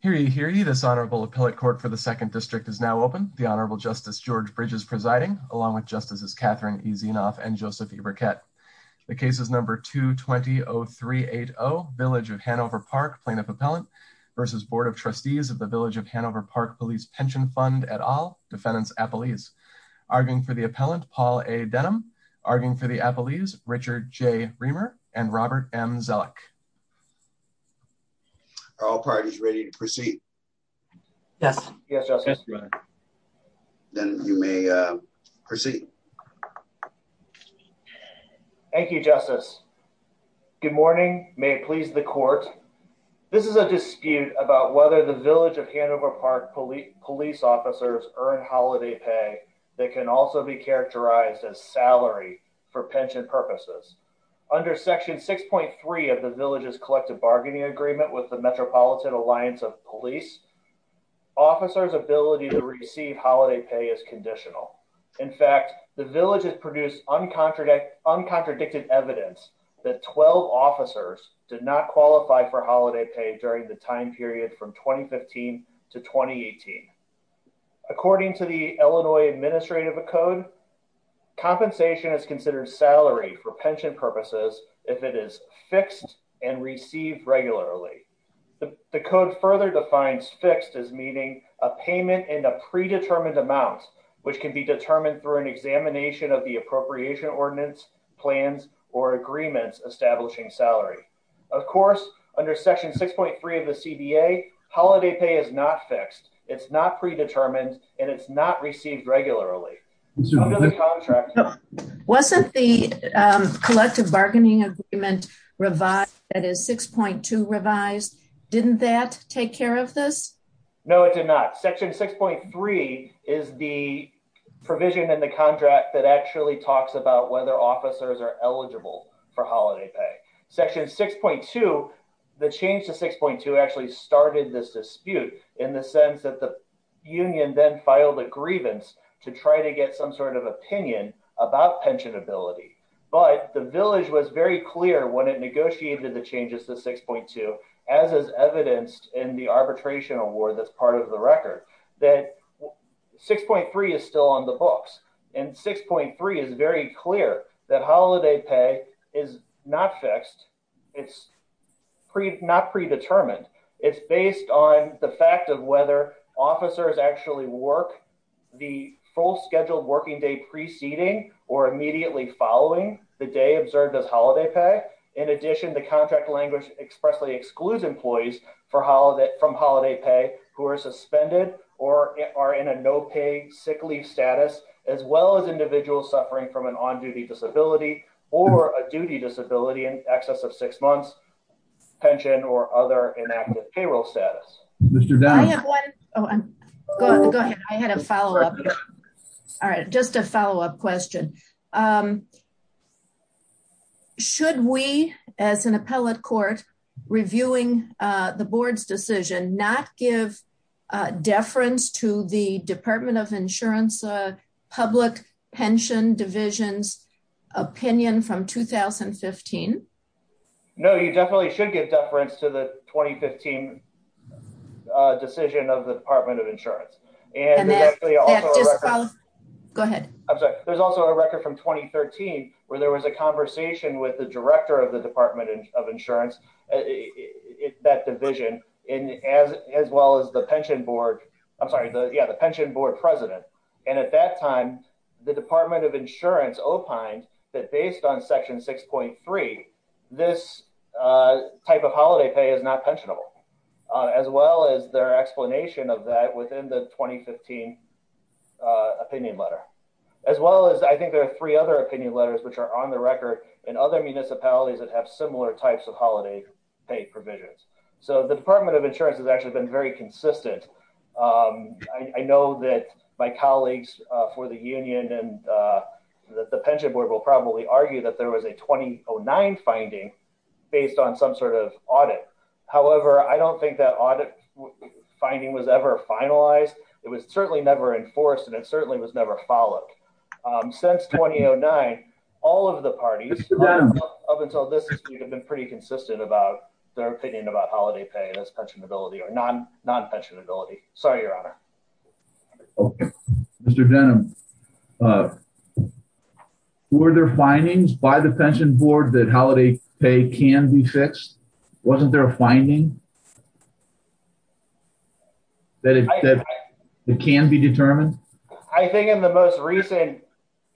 Hear ye, hear ye, this Honorable Appellate Court for the Second District is now open. The Honorable Justice George Bridges presiding, along with Justices Catherine E. Zinoff and Joseph E. Burkett. The case is number 220-380, Village of Hanover Park Plaintiff Appellant v. Board of Trustees of the Village of Hanover Park Police Pension Fund et al., Defendants Appellees. Arguing for the Appellant, Paul A. Denham. Arguing for the Appellees, Richard J. Reamer and Robert M. Zellick. Are all parties ready to proceed? Yes. Yes, Justice. Then you may proceed. Thank you, Justice. Good morning. May it please the Court. This is a dispute about whether the Village of Hanover Park Police officers earn holiday pay that can also be characterized as salary for pension purposes. Under Section 6.3 of the Village's Collective Bargaining Agreement with the Metropolitan Alliance of Police, officers' ability to receive holiday pay is conditional. In fact, the Village has produced uncontradicted evidence that 12 officers did not qualify for holiday pay during the time period from 2015 to 2018. According to the Illinois Administrative Code, compensation is considered salary for pension purposes if it is fixed and received regularly. The Code further defines fixed as meaning a payment in a predetermined amount, which can be determined through an examination of the appropriation ordinance, plans, or agreements establishing salary. Of course, under Section 6.3 of the CBA, holiday pay is not fixed, it's not predetermined, and it's not received regularly. Wasn't the Collective Bargaining Agreement revised, that is 6.2 revised, didn't that take care of this? No, it did not. Section 6.3 is the provision in the contract that actually talks about whether officers are eligible for holiday pay. Section 6.2, the change to 6.2 actually started this dispute in the sense that the union then filed a grievance to try to get some sort of opinion about pensionability. But the Village was very clear when it negotiated the changes to 6.2, as is evidenced in the arbitration award that's part of the record, that 6.3 is still on the books, and 6.3 is very clear that holiday pay is not fixed, it's not predetermined. It's based on the fact of whether officers actually work the full scheduled working day preceding or immediately following the day observed as holiday pay. In addition, the contract language expressly excludes employees from holiday pay who are suspended or are in a no-pay sick leave status, as well as individuals suffering from an on-duty disability or a duty disability in excess of six months, pension, or other inactive payroll status. Go ahead, I had a follow-up. All right, just a follow-up question. Should we, as an appellate court, reviewing the board's decision not give deference to the Department of Insurance Public Pension Division's opinion from 2015? No, you definitely should give deference to the 2015 decision of the Department of Insurance. Go ahead. There's also a record from 2013 where there was a conversation with the director of the Department of Insurance, that division, as well as the pension board president. And at that time, the Department of Insurance opined that based on Section 6.3, this type of holiday pay is not pensionable, as well as their explanation of that within the 2015 opinion letter. As well as, I think there are three other opinion letters which are on the record in other municipalities that have similar types of holiday pay provisions. So the Department of Insurance has actually been very consistent. I know that my colleagues for the union and the pension board will probably argue that there was a 2009 finding based on some sort of audit. However, I don't think that audit finding was ever finalized. It was certainly never enforced, and it certainly was never followed. Since 2009, all of the parties up until this point have been pretty consistent about their opinion about holiday pay as pensionability or non-pensionability. Sorry, your honor. Mr. Denham, were there findings by the pension board that holiday pay can be fixed? Wasn't there a finding that it can be determined? I think in the most recent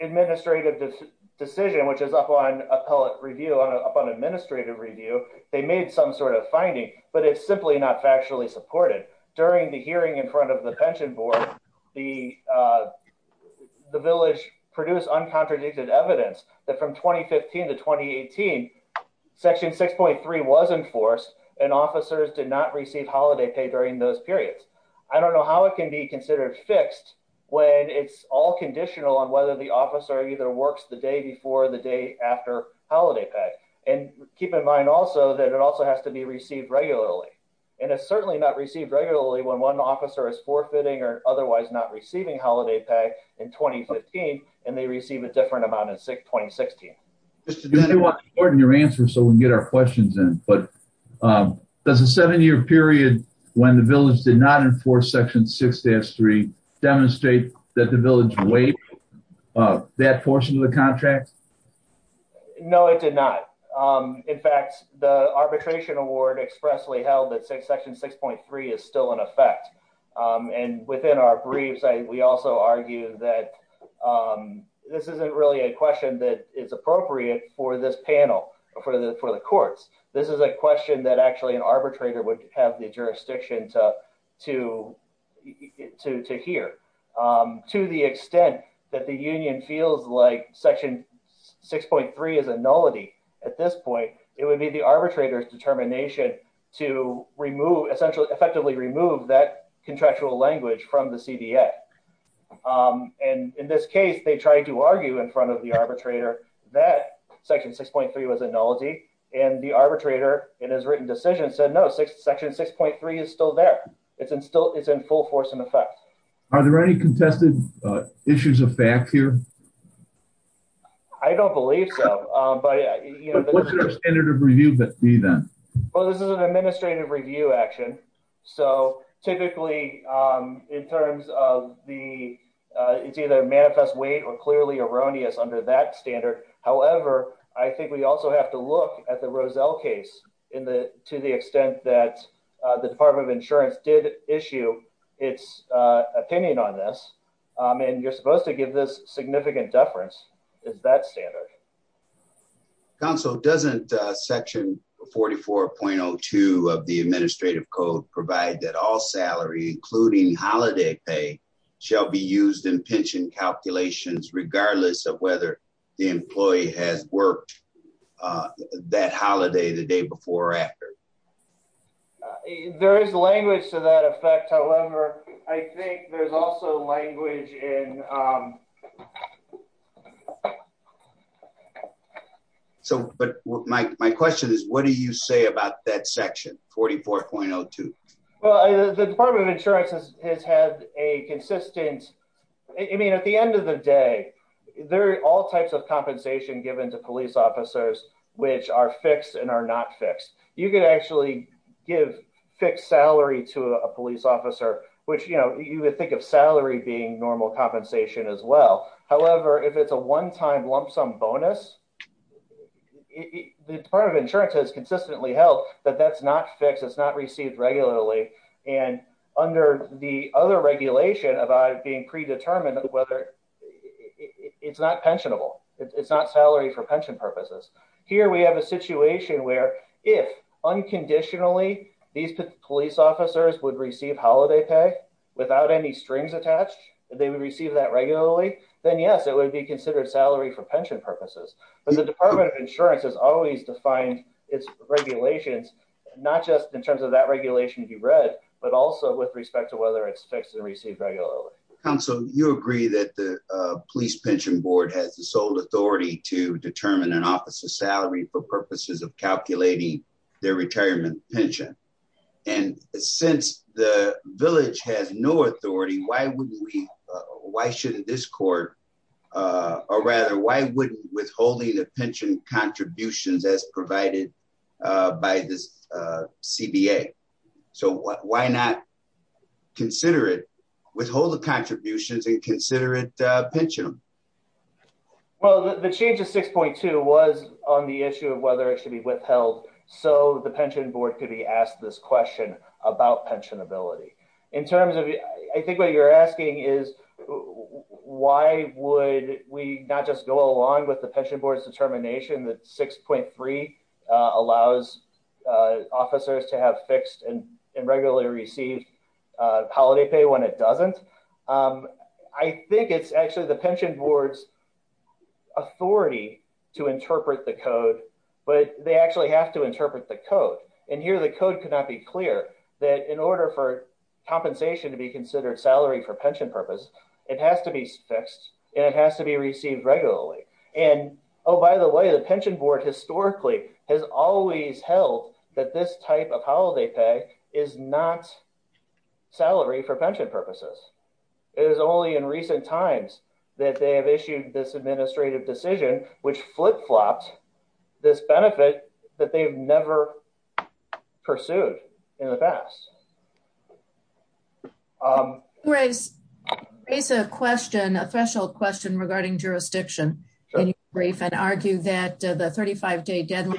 administrative decision, which is up on appellate review, up on administrative review, they made some sort of finding. But it's simply not factually supported. During the hearing in front of the pension board, the village produced uncontradicted evidence that from 2015 to 2018, Section 6.3 was enforced, and officers did not receive holiday pay during those periods. I don't know how it can be considered fixed when it's all conditional on whether the officer either works the day before or the day after holiday pay. And keep in mind also that it also has to be received regularly. And it's certainly not received regularly when one officer is forfeiting or otherwise not receiving holiday pay in 2015, and they receive a different amount in 2016. Your answer so we can get our questions in, but does a seven-year period when the village did not enforce Section 6-3 demonstrate that the village waived that portion of the contract? No, it did not. In fact, the arbitration award expressly held that Section 6.3 is still in effect. And within our briefs, we also argue that this isn't really a question that is appropriate for this panel, for the courts. This is a question that actually an arbitrator would have the jurisdiction to hear. To the extent that the union feels like Section 6.3 is a nullity at this point, it would be the arbitrator's determination to effectively remove that contractual language from the CDA. And in this case, they tried to argue in front of the arbitrator that Section 6.3 was a nullity, and the arbitrator in his written decision said no, Section 6.3 is still there. It's in full force in effect. Are there any contested issues of fact here? I don't believe so. But what's your standard of review then? Well, this is an administrative review action. So typically, in terms of the, it's either manifest weight or clearly erroneous under that standard. However, I think we also have to look at the Roselle case to the extent that the Department of Insurance did issue its opinion on this. And you're supposed to give this significant deference. Is that standard? Council, doesn't Section 44.02 of the administrative code provide that all salary, including holiday pay, shall be used in pension calculations regardless of whether the employee has worked that holiday the day before or after? There is language to that effect. However, I think there's also language in. But my question is, what do you say about that section, 44.02? Well, the Department of Insurance has had a consistent, I mean, at the end of the day, there are all types of compensation given to police officers which are fixed and are not fixed. You could actually give fixed salary to a police officer, which, you know, you would think of salary being normal compensation as well. However, if it's a one-time lump sum bonus, the Department of Insurance has consistently held that that's not fixed, it's not received regularly. And under the other regulation about it being predetermined whether it's not pensionable, it's not salary for pension purposes. Here we have a situation where if unconditionally these police officers would receive holiday pay without any strings attached, they would receive that regularly, then yes, it would be considered salary for pension purposes. But the Department of Insurance has always defined its regulations, not just in terms of that regulation to be read, but also with respect to whether it's fixed and received regularly. Counsel, you agree that the Police Pension Board has the sole authority to determine an officer's salary for purposes of calculating their retirement pension. And since the village has no authority, why wouldn't we, why shouldn't this court, or rather, why wouldn't withholding the pension contributions as provided by the CBA? So why not consider it, withhold the contributions and consider it pensionable? Well, the change of 6.2 was on the issue of whether it should be withheld so the Pension Board could be asked this question about pensionability. In terms of, I think what you're asking is, why would we not just go along with the Pension Board's determination that 6.3 allows officers to have fixed and regularly received holiday pay when it doesn't? I think it's actually the Pension Board's authority to interpret the code, but they actually have to interpret the code. And here the code could not be clear that in order for compensation to be considered salary for pension purpose, it has to be fixed, and it has to be received regularly. And, oh, by the way, the Pension Board historically has always held that this type of holiday pay is not salary for pension purposes. It is only in recent times that they have issued this administrative decision, which flip-flopped this benefit that they've never pursued in the past. You raised a question, a threshold question regarding jurisdiction in your brief and argued that the 35-day deadline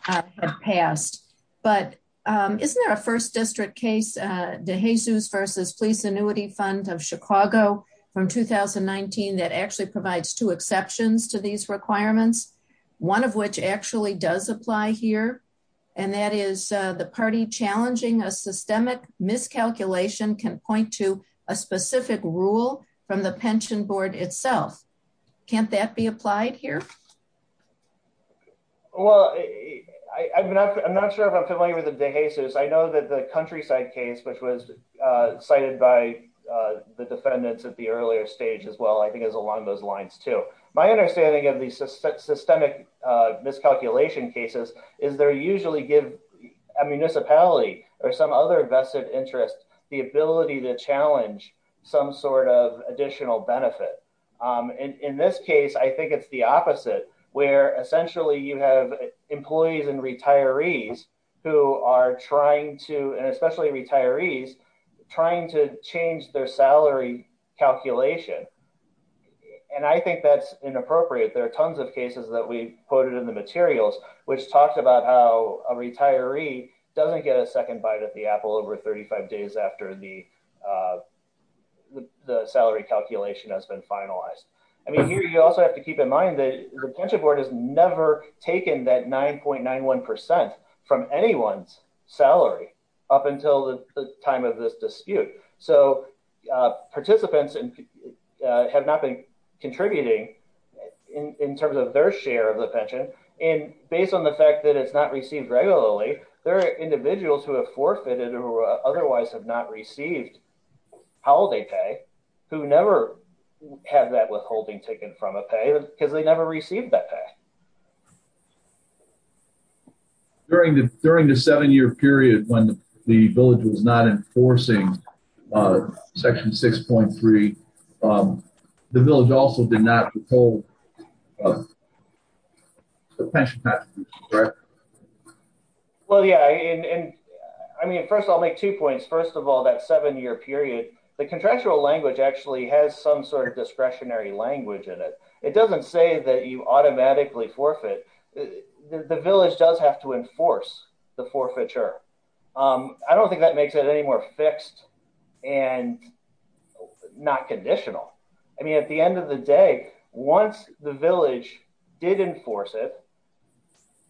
had passed. But isn't there a first district case, DeJesus v. Police Annuity Fund of Chicago from 2019 that actually provides two exceptions to these requirements, one of which actually does apply here? And that is the party challenging a systemic miscalculation can point to a specific rule from the Pension Board itself. Can't that be applied here? Well, I'm not sure if I'm familiar with DeJesus. I know that the countryside case, which was cited by the defendants at the earlier stage as well, I think is along those lines, too. My understanding of these systemic miscalculation cases is they usually give a municipality or some other vested interest the ability to challenge some sort of additional benefit. In this case, I think it's the opposite, where essentially you have employees and retirees who are trying to, and especially retirees, trying to change their salary calculation. And I think that's inappropriate. There are tons of cases that we quoted in the materials which talked about how a retiree doesn't get a second bite of the apple over 35 days after the salary calculation has been finalized. I mean, here you also have to keep in mind that the Pension Board has never taken that 9.91% from anyone's salary up until the time of this dispute. So participants have not been contributing in terms of their share of the pension. And based on the fact that it's not received regularly, there are individuals who have forfeited or otherwise have not received holiday pay who never have that withholding ticket from a pay because they never received that pay. During the seven-year period when the village was not enforcing Section 6.3, the village also did not withhold the pension package, correct? Well, yeah. I mean, first I'll make two points. First of all, that seven-year period, the contractual language actually has some sort of discretionary language in it. It doesn't say that you automatically forfeit. The village does have to enforce the forfeiture. I don't think that makes it any more fixed and not conditional. I mean, at the end of the day, once the village did enforce it,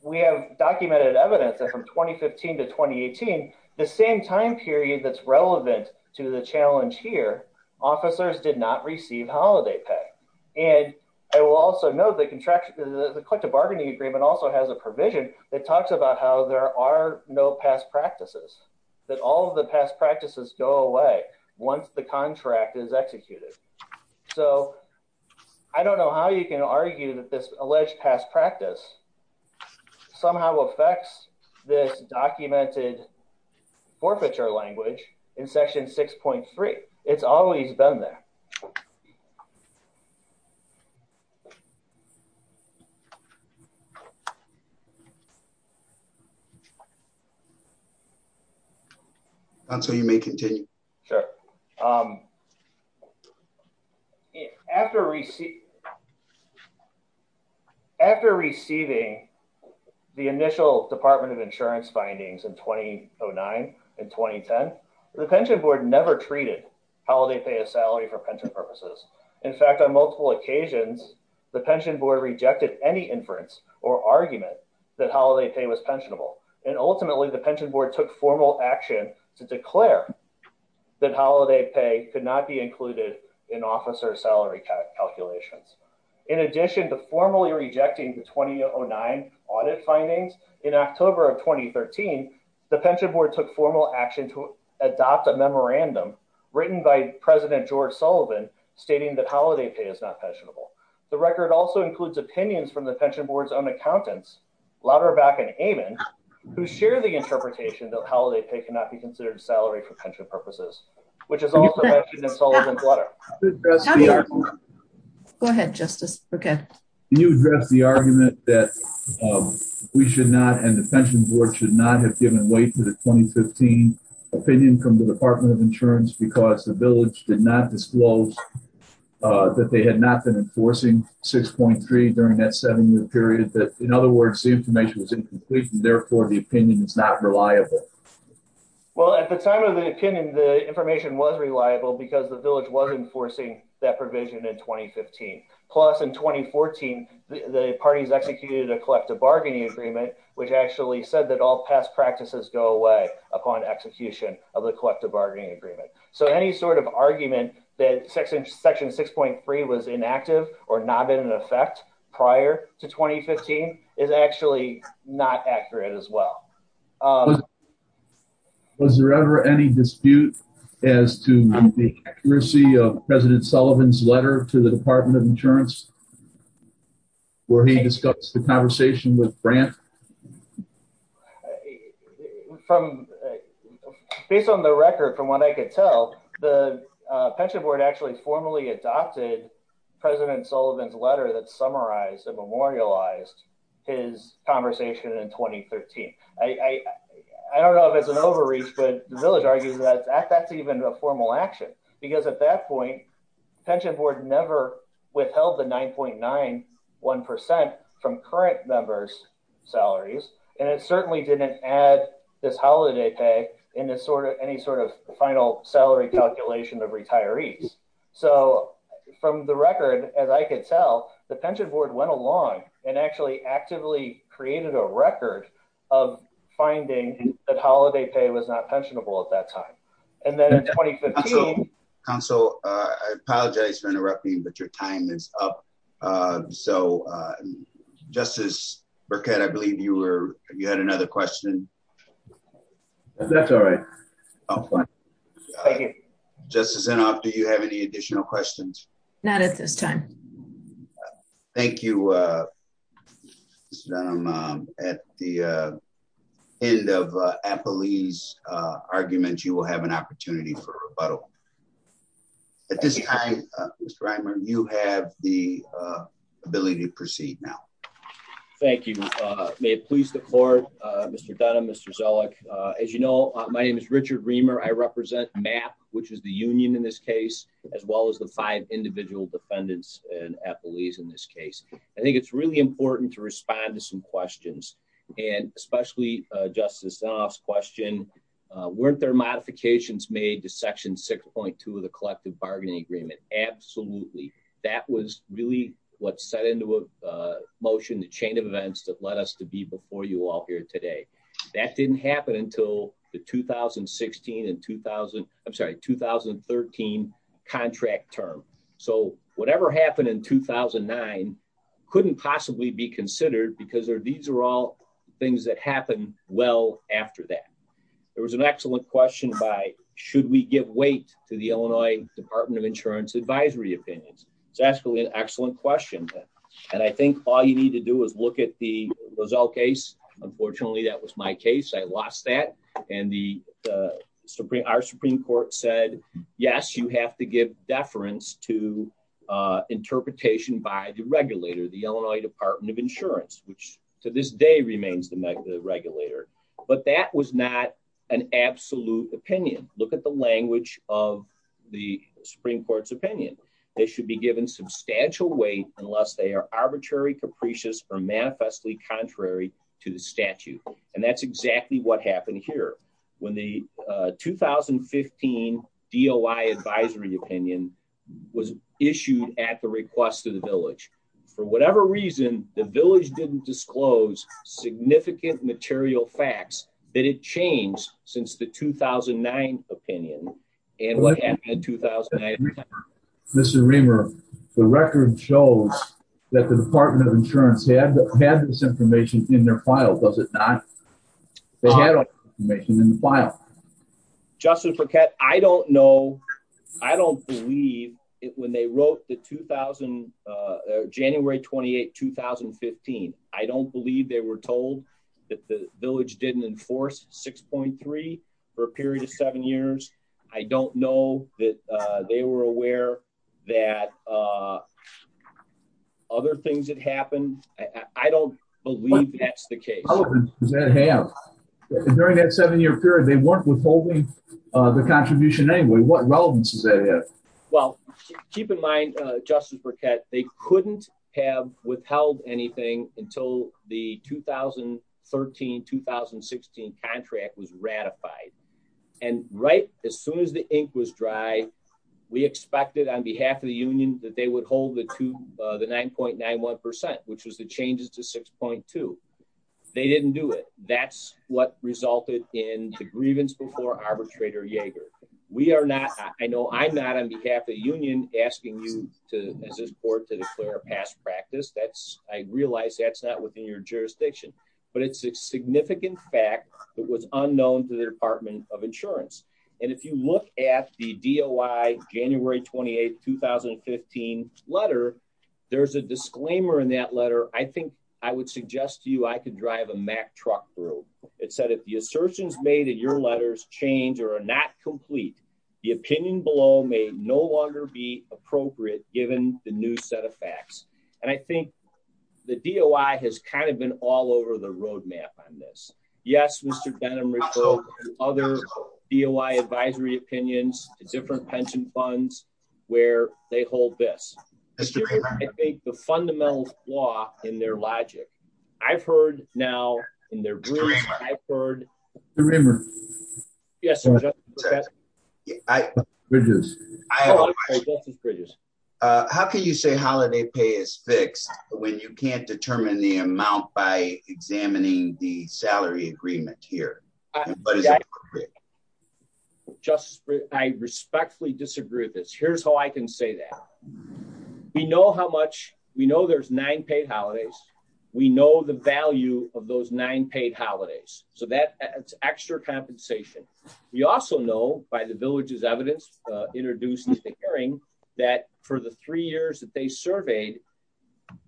we have documented evidence that from 2015 to 2018, the same time period that's relevant to the challenge here, officers did not receive holiday pay. And I will also note the collective bargaining agreement also has a provision that talks about how there are no past practices, that all of the past practices go away once the contract is executed. So I don't know how you can argue that this alleged past practice somehow affects this documented forfeiture language in Section 6.3. It's always been there. So you may continue. Sure. After receiving the initial Department of Insurance findings in 2009 and 2010, the Pension Board never treated holiday pay as salary for pension purposes. In fact, on multiple occasions, the Pension Board rejected any inference or argument that holiday pay was pensionable. And ultimately, the Pension Board took formal action to declare that holiday pay could not be included in officer salary calculations. In addition to formally rejecting the 2009 audit findings, in October of 2013, the Pension Board took formal action to adopt a memorandum written by President George Sullivan stating that holiday pay is not pensionable. The record also includes opinions from the Pension Board's own accountants, Lauterbach and Amon, who share the interpretation that holiday pay cannot be considered salary for pension purposes, which is also mentioned in Sullivan's letter. Go ahead, Justice. Okay. Can you address the argument that we should not and the Pension Board should not have given way to the 2015 opinion from the Department of Insurance because the village did not disclose that they had not been enforcing 6.3 during that seven-year period? In other words, the information was incomplete, and therefore, the opinion is not reliable. Well, at the time of the opinion, the information was reliable because the village was enforcing that provision in 2015. Plus, in 2014, the parties executed a collective bargaining agreement, which actually said that all past practices go away upon execution of the collective bargaining agreement. So, any sort of argument that Section 6.3 was inactive or not been in effect prior to 2015 is actually not accurate as well. Was there ever any dispute as to the accuracy of President Sullivan's letter to the Department of Insurance where he discussed the conversation with Grant? Based on the record, from what I could tell, the Pension Board actually formally adopted President Sullivan's letter that summarized and memorialized his conversation in 2013. I don't know if it's an overreach, but the village argues that that's even a formal action because at that point, the Pension Board never withheld the 9.91% from current members' salaries, and it certainly didn't add this holiday pay in any sort of final salary calculation of retirees. So, from the record, as I could tell, the Pension Board went along and actually actively created a record of finding that holiday pay was not pensionable at that time. And then in 2015… Counsel, I apologize for interrupting, but your time is up. So, Justice Burkett, I believe you had another question. That's all right. Thank you. Justice Inhofe, do you have any additional questions? Not at this time. Thank you, Mr. Dunham. At the end of Apolli's argument, you will have an opportunity for rebuttal. At this time, Mr. Reimer, you have the ability to proceed now. Thank you. May it please the court, Mr. Dunham, Mr. Zoellick. As you know, my name is Richard Reimer. I represent MAP, which is the union in this case, as well as the five individual defendants in Apolli's in this case. I think it's really important to respond to some questions, and especially Justice Inhofe's question, weren't there modifications made to Section 6.2 of the Collective Bargaining Agreement? Absolutely. That was really what set into motion the chain of events that led us to be before you all here today. That didn't happen until the 2016 and 2013 contract term. So whatever happened in 2009 couldn't possibly be considered because these are all things that happened well after that. There was an excellent question by, should we give weight to the Illinois Department of Insurance advisory opinions? It's actually an excellent question. And I think all you need to do is look at the Zoell case. Unfortunately, that was my case. I lost that. And our Supreme Court said, yes, you have to give deference to interpretation by the regulator, the Illinois Department of Insurance, which to this day remains the regulator. But that was not an absolute opinion. They should be given substantial weight unless they are arbitrary, capricious, or manifestly contrary to the statute. And that's exactly what happened here. 2015 DOI advisory opinion was issued at the request of the village. For whatever reason, the village didn't disclose significant material facts that it changed since the 2009 opinion and what happened in 2009. Mr. Reamer, the record shows that the Department of Insurance had this information in their file, does it not? They had that information in the file. Justice Paquette, I don't know. I don't believe when they wrote the January 28, 2015, I don't believe they were told that the village didn't enforce 6.3 for a period of seven years. I don't know that they were aware that other things had happened. I don't believe that's the case. What relevance does that have? During that seven-year period, they weren't withholding the contribution anyway. What relevance does that have? Well, keep in mind, Justice Paquette, they couldn't have withheld anything until the 2013-2016 contract was ratified. And right as soon as the ink was dry, we expected on behalf of the union that they would hold the 9.91%, which was the changes to 6.2. They didn't do it. That's what resulted in the grievance before Arbitrator Yeager. We are not, I know I'm not on behalf of the union asking you to, as this board, to declare a past practice. That's, I realize that's not within your jurisdiction, but it's a significant fact that was unknown to the Department of Insurance. And if you look at the DOI January 28, 2015 letter, there's a disclaimer in that letter. I think I would suggest to you I could drive a Mack truck through. It said, if the assertions made in your letters change or are not complete, the opinion below may no longer be appropriate given the new set of facts. And I think the DOI has kind of been all over the roadmap on this. Yes, Mr. Benham, other DOI advisory opinions, different pension funds where they hold this. I think the fundamental flaw in their logic. I've heard now in their rooms, I've heard. Yes, sir. I reduce. Bridges, how can you say holiday pay is fixed when you can't determine the amount by examining the salary agreement here. Just respectfully disagree with this. Here's how I can say that. We know how much we know there's nine paid holidays. We know the value of those nine paid holidays, so that extra compensation. We also know by the villages evidence introduced in the hearing that for the three years that they surveyed,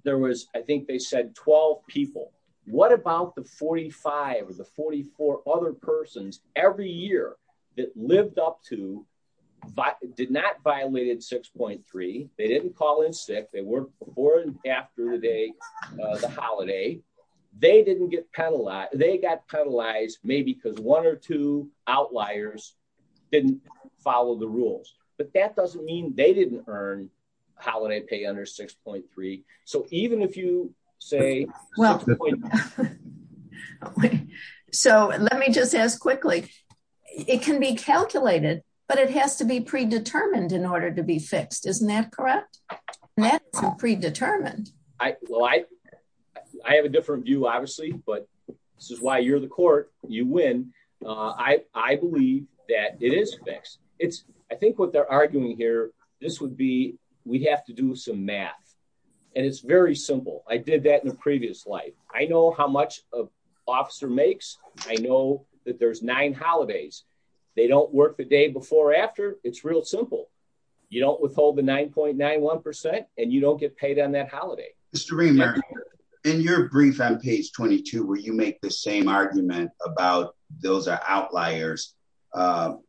there was, I think they said 12 people. What about the 45 or the 44 other persons every year that lived up to, but did not violated 6.3. They didn't call in sick. They were born after the holiday. They didn't get penalized, they got penalized, maybe because one or two outliers didn't follow the rules, but that doesn't mean they didn't earn holiday pay under 6.3. So even if you say, well, so let me just ask quickly. It can be calculated, but it has to be predetermined in order to be fixed isn't that correct. predetermined. I, well I, I have a different view obviously but this is why you're the court, you win. I believe that it is fixed. It's, I think what they're arguing here. This would be, we'd have to do some math. And it's very simple. I did that in a previous life, I know how much of officer makes. I know that there's nine holidays. They don't work the day before after, it's real simple. You don't withhold the 9.91%, and you don't get paid on that holiday history. In your brief on page 22 where you make the same argument about those are outliers. And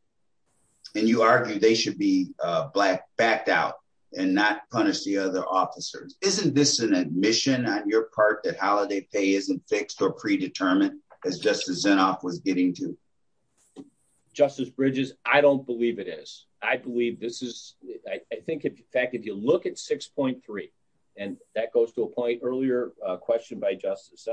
you argue they should be black backed out and not punish the other officers, isn't this an admission on your part that holiday pay isn't fixed or predetermined as just as enough was getting to justice bridges, I don't believe it is. I believe this is, I think in fact if you look at 6.3, and that goes to a point earlier question by justice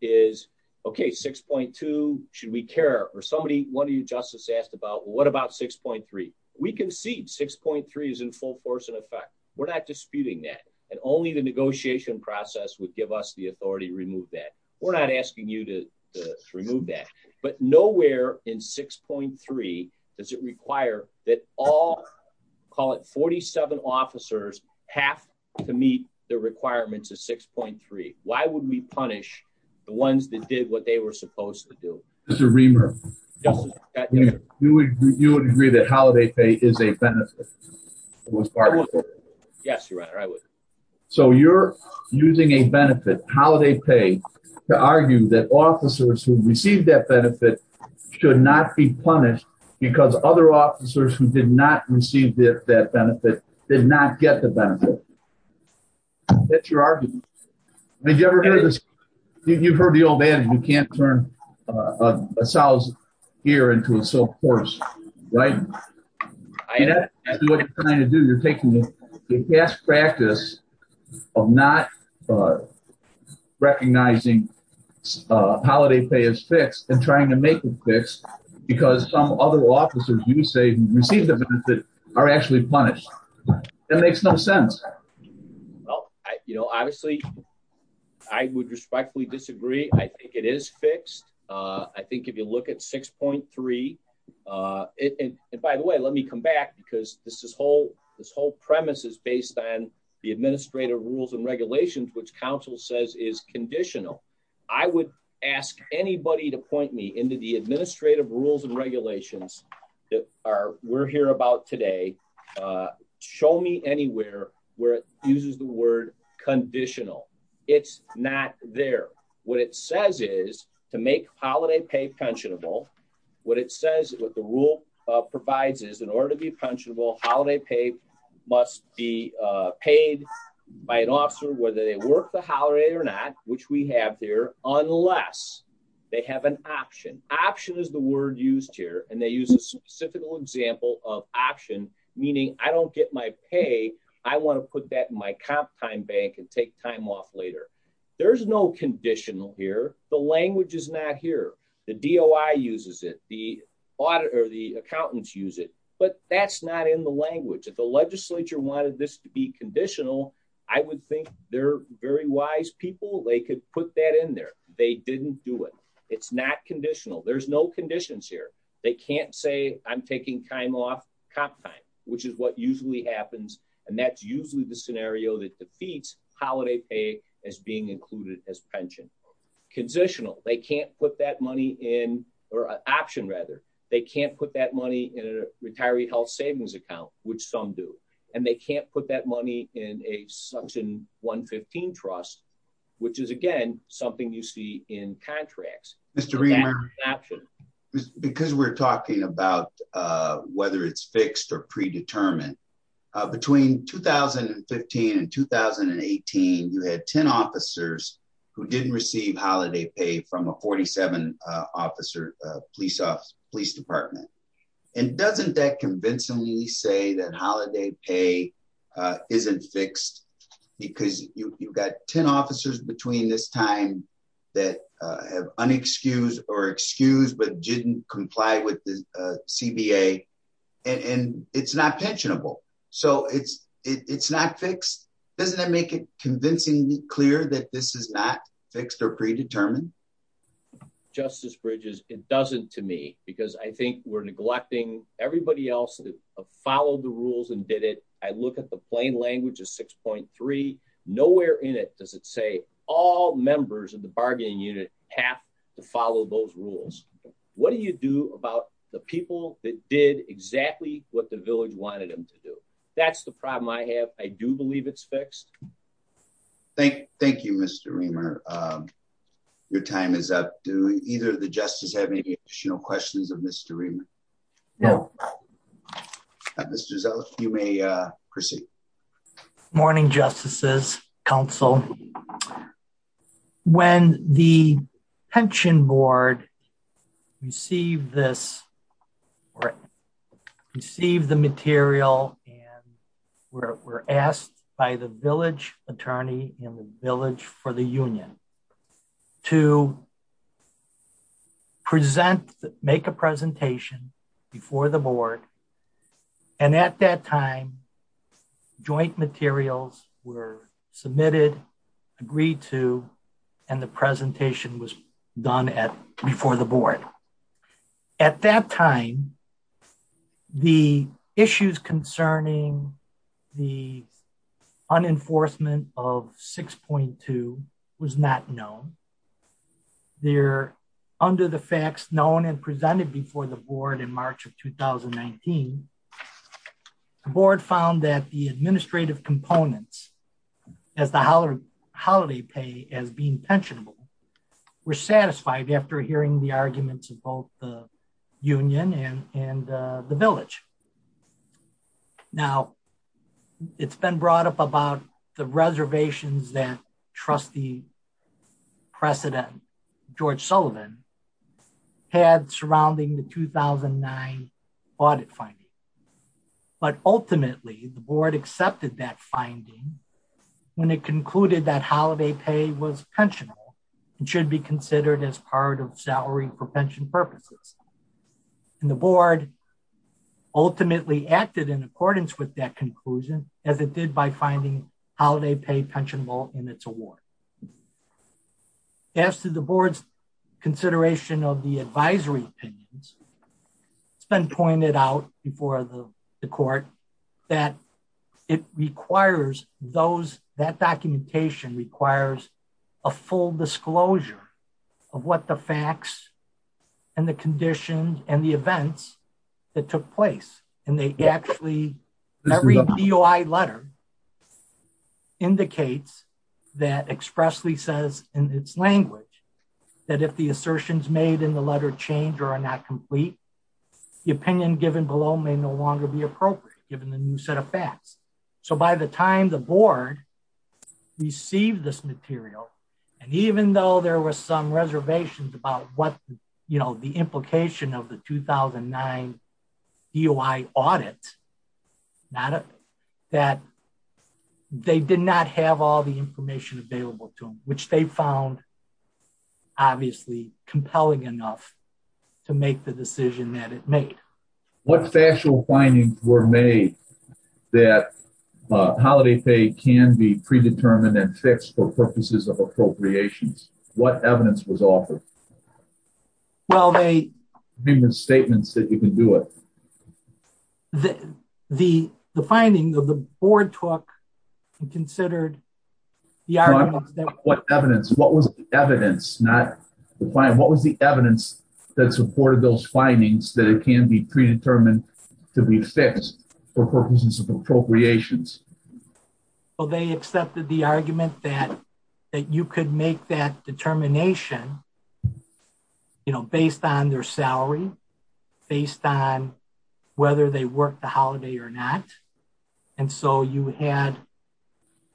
is okay 6.2, should we care, or somebody, one of you justice asked about what about 6.3, we can see 6.3 is in full force We're not disputing that, and only the negotiation process would give us the authority to remove that. We're not asking you to remove that, but nowhere in 6.3, does it require that all call it 47 officers have to meet the requirements of 6.3, why would we punish the ones that did what they were supposed to do. Mr. Reamer, you would agree that holiday pay is a benefit. Yes, Your Honor, I would. So you're using a benefit holiday pay to argue that officers who received that benefit should not be punished because other officers who did not receive that benefit did not get the benefit. That's your argument. You've heard the old adage, you can't turn a sow's ear into a sow's horse. You're taking the best practice of not recognizing holiday pay as fixed and trying to make it fixed because some other officers you say received the benefit are actually punished. That makes no sense. Well, you know, obviously, I would respectfully disagree. I think it is fixed. I think if you look at 6.3. By the way, let me come back because this whole premise is based on the administrative rules and regulations which counsel says is conditional. I would ask anybody to point me into the administrative rules and regulations that we're here about today. Show me anywhere where it uses the word conditional. It's not there. What it says is to make holiday pay pensionable. What it says what the rule provides is in order to be pensionable holiday pay must be paid by an officer whether they work the holiday or not, which we have there, unless they have an option. Option is the word used here and they use a specific example of option, meaning I don't get my pay. I want to put that in my comp time bank and take time off later. There's no conditional here. The language is not here. The DOI uses it, the auditor, the accountants use it, but that's not in the language of the legislature wanted this to be conditional. I would think they're very wise people. They could put that in there. They didn't do it. It's not conditional. There's no conditions here. They can't say I'm taking time off comp time, which is what usually happens. And that's usually the scenario that defeats holiday pay as being included as pension. Conditional, they can't put that money in, or option rather, they can't put that money in a retiree health savings account, which some do. And they can't put that money in a suction 115 trust, which is again something you see in contracts. Because we're talking about whether it's fixed or predetermined. Between 2015 and 2018, you had 10 officers who didn't receive holiday pay from a 47 officer police department. And doesn't that convincingly say that holiday pay isn't fixed, because you've got 10 officers between this time that have unexcused or excused but didn't comply with the CBA, and it's not pensionable. So it's, it's not fixed. Doesn't that make it convincingly clear that this is not fixed or predetermined. Justice Bridges, it doesn't to me, because I think we're neglecting everybody else that followed the rules and did it. I look at the plain language is 6.3 nowhere in it does it say all members of the bargaining unit have to follow those rules. What do you do about the people that did exactly what the village wanted them to do. That's the problem I have, I do believe it's fixed. Thank, thank you, Mr. Your time is up to either the justice have any additional questions of mystery. Yeah. You may proceed. Morning Justices Council. When the pension board receive this receive the material, and we're asked by the village attorney village for the union to present, make a presentation before the board. And at that time, joint materials were submitted agreed to, and the presentation was done at before the board. At that time, the issues concerning the unenforcement of 6.2 was not known. They're under the facts known and presented before the board in March of 2019. The board found that the administrative components as the holiday holiday pay as being pensionable were satisfied after hearing the arguments of both the union and, and the village. Now, it's been brought up about the reservations that trustee precedent, George Sullivan had surrounding the 2009 audit finding. But ultimately the board accepted that finding. When it concluded that holiday pay was pensionable should be considered as part of salary for pension purposes. And the board. Ultimately acted in accordance with that conclusion, as it did by finding holiday pay pensionable in its award. As to the board's consideration of the advisory. It's been pointed out before the court that it requires those that documentation requires a full disclosure of what the facts and the conditions and the events that took place, and they actually read the letter. indicates that expressly says in its language that if the assertions made in the letter change or are not complete opinion given below may no longer be appropriate, given the new set of facts. So by the time the board received this material. And even though there was some reservations about what you know the implication of the 2009 UI audit, not that they did not have all the information available to them, which they found. Obviously, compelling enough to make the decision that it made. What factual findings were made that holiday pay can be predetermined and fixed for purposes of appropriations, what evidence was offered. Well they statements that you can do it. The, the, the finding of the board talk considered. What evidence, what was the evidence not find what was the evidence that supported those findings that it can be predetermined to be fixed for purposes of appropriations. Well they accepted the argument that that you could make that determination. You know, based on their salary, based on whether they work the holiday or not. And so you had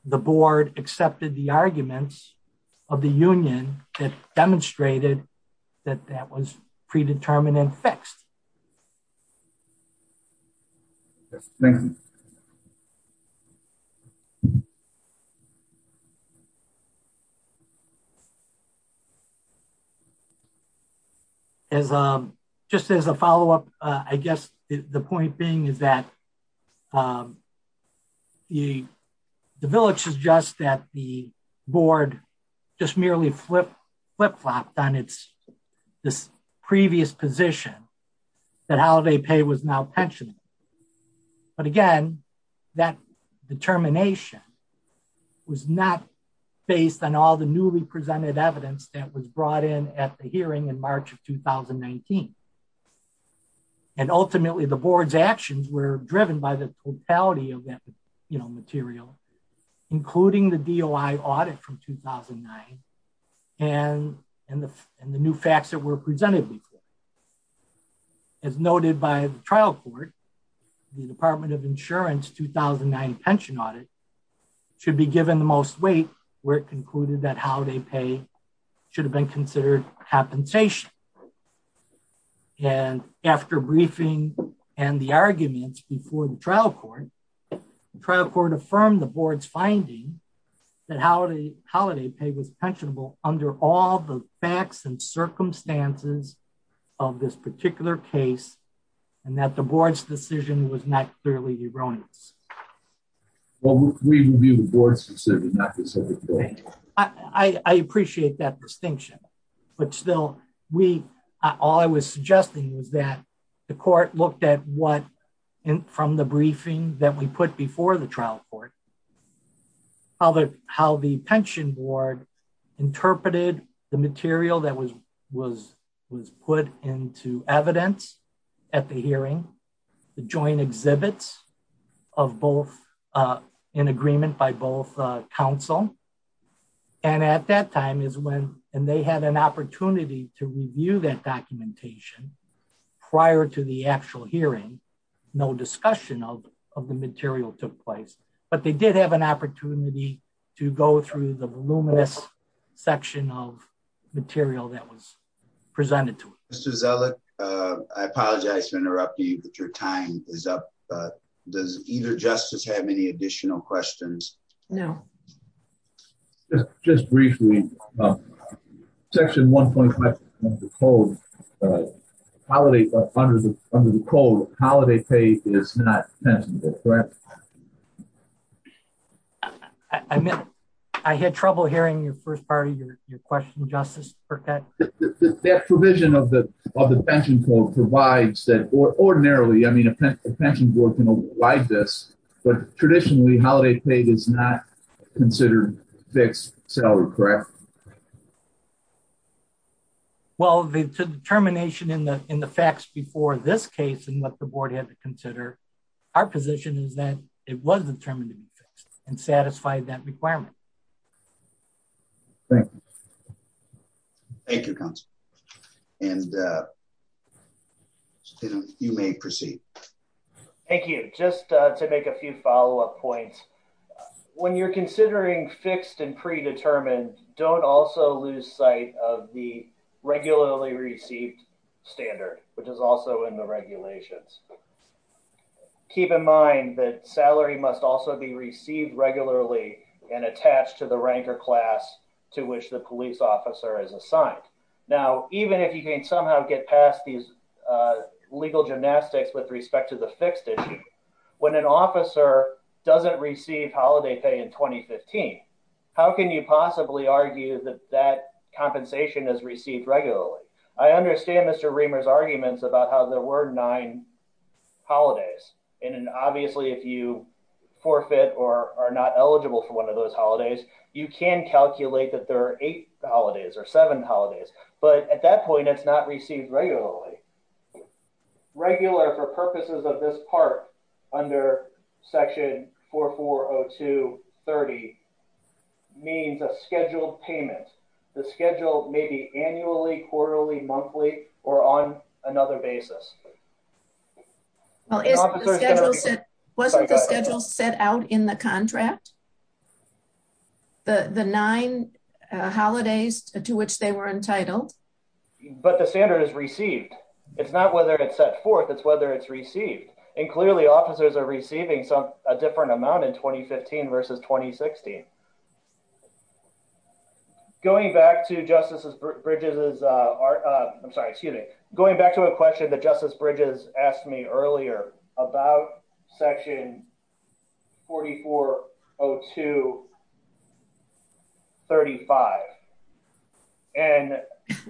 the board accepted the arguments of the union that demonstrated that that was predetermined and fixed. Just as a follow up, I guess, the point being is that the village is just that the board just merely flip flip flopped on it's this previous position. That holiday pay was now pension. But again, that determination was not based on all the newly presented evidence that was brought in at the hearing in March of 2019. And ultimately the board's actions were driven by the totality of that, you know, material, including the DOI audit from 2009. And, and the, and the new facts that were presented. As noted by the trial court. The Department of Insurance 2009 pension audit should be given the most weight, where it concluded that how they pay should have been considered happen station. And after briefing, and the arguments before the trial court trial court affirmed the board's finding that holiday holiday pay was pensionable under all the facts and circumstances of this particular case, and that the board's decision was not clearly erroneous. Well, we review the board's decision. I appreciate that distinction. But still, we all I was suggesting was that the court looked at what in from the briefing that we put before the trial court. How the, how the pension board interpreted the material that was, was, was put into evidence at the hearing the joint exhibits of both in agreement by both counsel. And at that time is when, and they had an opportunity to review that documentation. Prior to the actual hearing. No discussion of of the material took place, but they did have an opportunity to go through the luminous section of material that was presented to us as I apologize for interrupting your time is up. Does either justice have any additional questions. No. Just briefly. Section 1. Holiday funders under the cold holiday paid is not. I mean, I had trouble hearing your first part of your question justice for that provision of the of the pension for provides that ordinarily I mean a pension board can apply this, but traditionally holiday paid is not considered fixed salary, correct. Well, the termination in the, in the facts before this case and what the board had to consider our position is that it was determined to be fixed and satisfied that requirement. Thank you. And you may proceed. Thank you, just to make a few follow up points. When you're considering fixed and predetermined don't also lose sight of the regularly received standard, which is also in the regulations. Keep in mind that salary must also be received regularly and attached to the rank or class, to which the police officer is assigned. Now, even if you can somehow get past these legal gymnastics with respect to the fixed issue. When an officer doesn't receive holiday pay in 2015. How can you possibly argue that that compensation is received regularly. I understand Mr reamers arguments about how there were nine holidays in an obviously if you forfeit or are not eligible for one of those holidays, you can calculate that there are eight holidays or seven holidays, but at that point it's not received regularly. Regular for purposes of this part under section for 402 30 means a scheduled payment, the schedule, maybe annually quarterly monthly or on another basis. Well, wasn't the schedule set out in the contract. The the nine holidays, to which they were entitled, but the standard is received. It's not whether it's set forth it's whether it's received and clearly officers are receiving some different amount in 2015 versus 2016. Going back to justices bridges is our, I'm sorry, excuse me, going back to a question that justice bridges asked me earlier about section 4402 35, and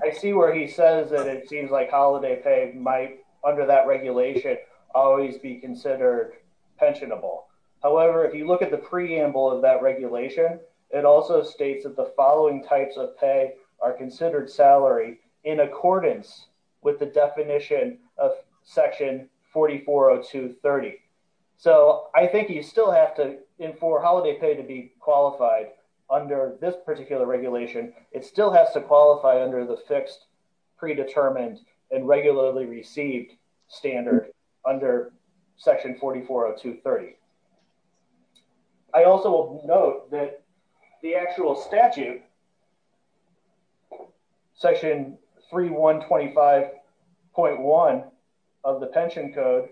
I see where he says that it seems like holiday paid might under that regulation, always be considered pensionable. However, if you look at the preamble of that regulation. It also states that the following types of pay are considered salary in accordance with the definition of section 4402 30. So I think you still have to in for holiday pay to be qualified under this particular regulation, it still has to qualify under the fixed predetermined and regularly received standard under section 4402 30. I also note that the actual statute. Section 3125.1 of the pension code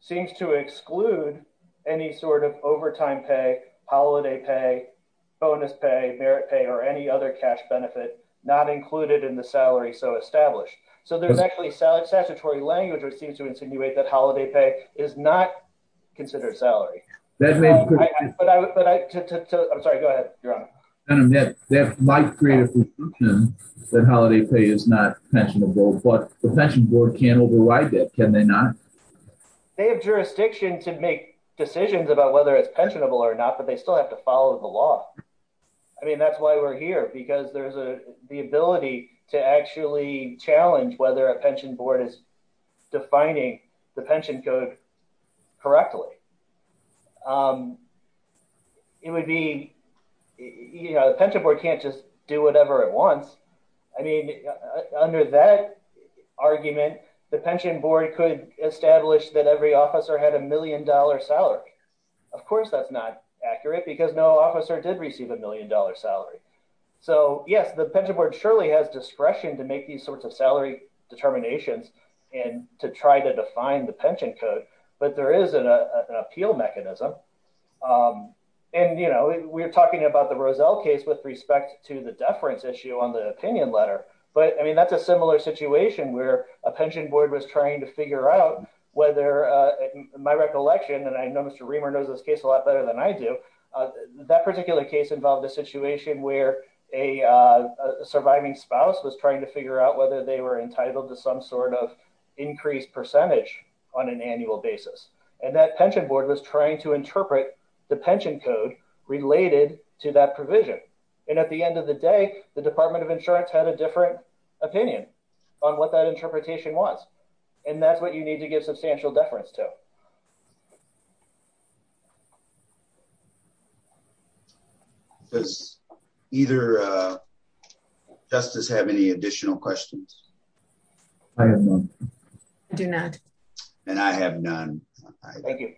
seems to exclude any sort of overtime pay holiday pay bonus pay merit pay or any other cash benefit, not included in the salary so established. So there's actually solid statutory language or seems to insinuate that holiday pay is not considered salary. But I'm sorry go ahead. And that might create a solution that holiday pay is not pensionable but the pension board can override that can they not have jurisdiction to make decisions about whether it's pensionable or not, but they still have to follow the law. I mean that's why we're here because there's a, the ability to actually challenge whether a pension board is defining the pension code correctly. It would be, you know, the pension board can't just do whatever it wants. I mean, under that argument, the pension board could establish that every officer had a million dollar salary. Of course that's not accurate because no officer did receive a million dollar salary. So, yes, the pension board surely has discretion to make these sorts of salary determinations, and to try to define the pension code, but there is an appeal mechanism. And, you know, we're talking about the Roselle case with respect to the deference issue on the opinion letter, but I mean that's a similar situation where a pension board was trying to figure out whether my recollection and I know Mr. better than I do that particular case involved a situation where a surviving spouse was trying to figure out whether they were entitled to some sort of increased percentage on an annual basis, and that pension board was trying to interpret the pension code related to that provision. And at the end of the day, the Department of Insurance had a different opinion on what that interpretation was. And that's what you need to give substantial deference to. Does either justice have any additional questions. Do not. And I have none. Thank you.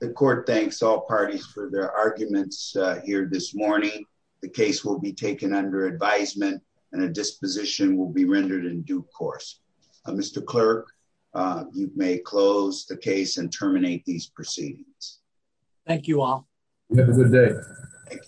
The court thanks all parties for their arguments here this morning. The case will be taken under advisement and a disposition will be rendered in due course. Mr. Clerk, you may close the case and terminate these proceedings. Thank you all. Have a good day.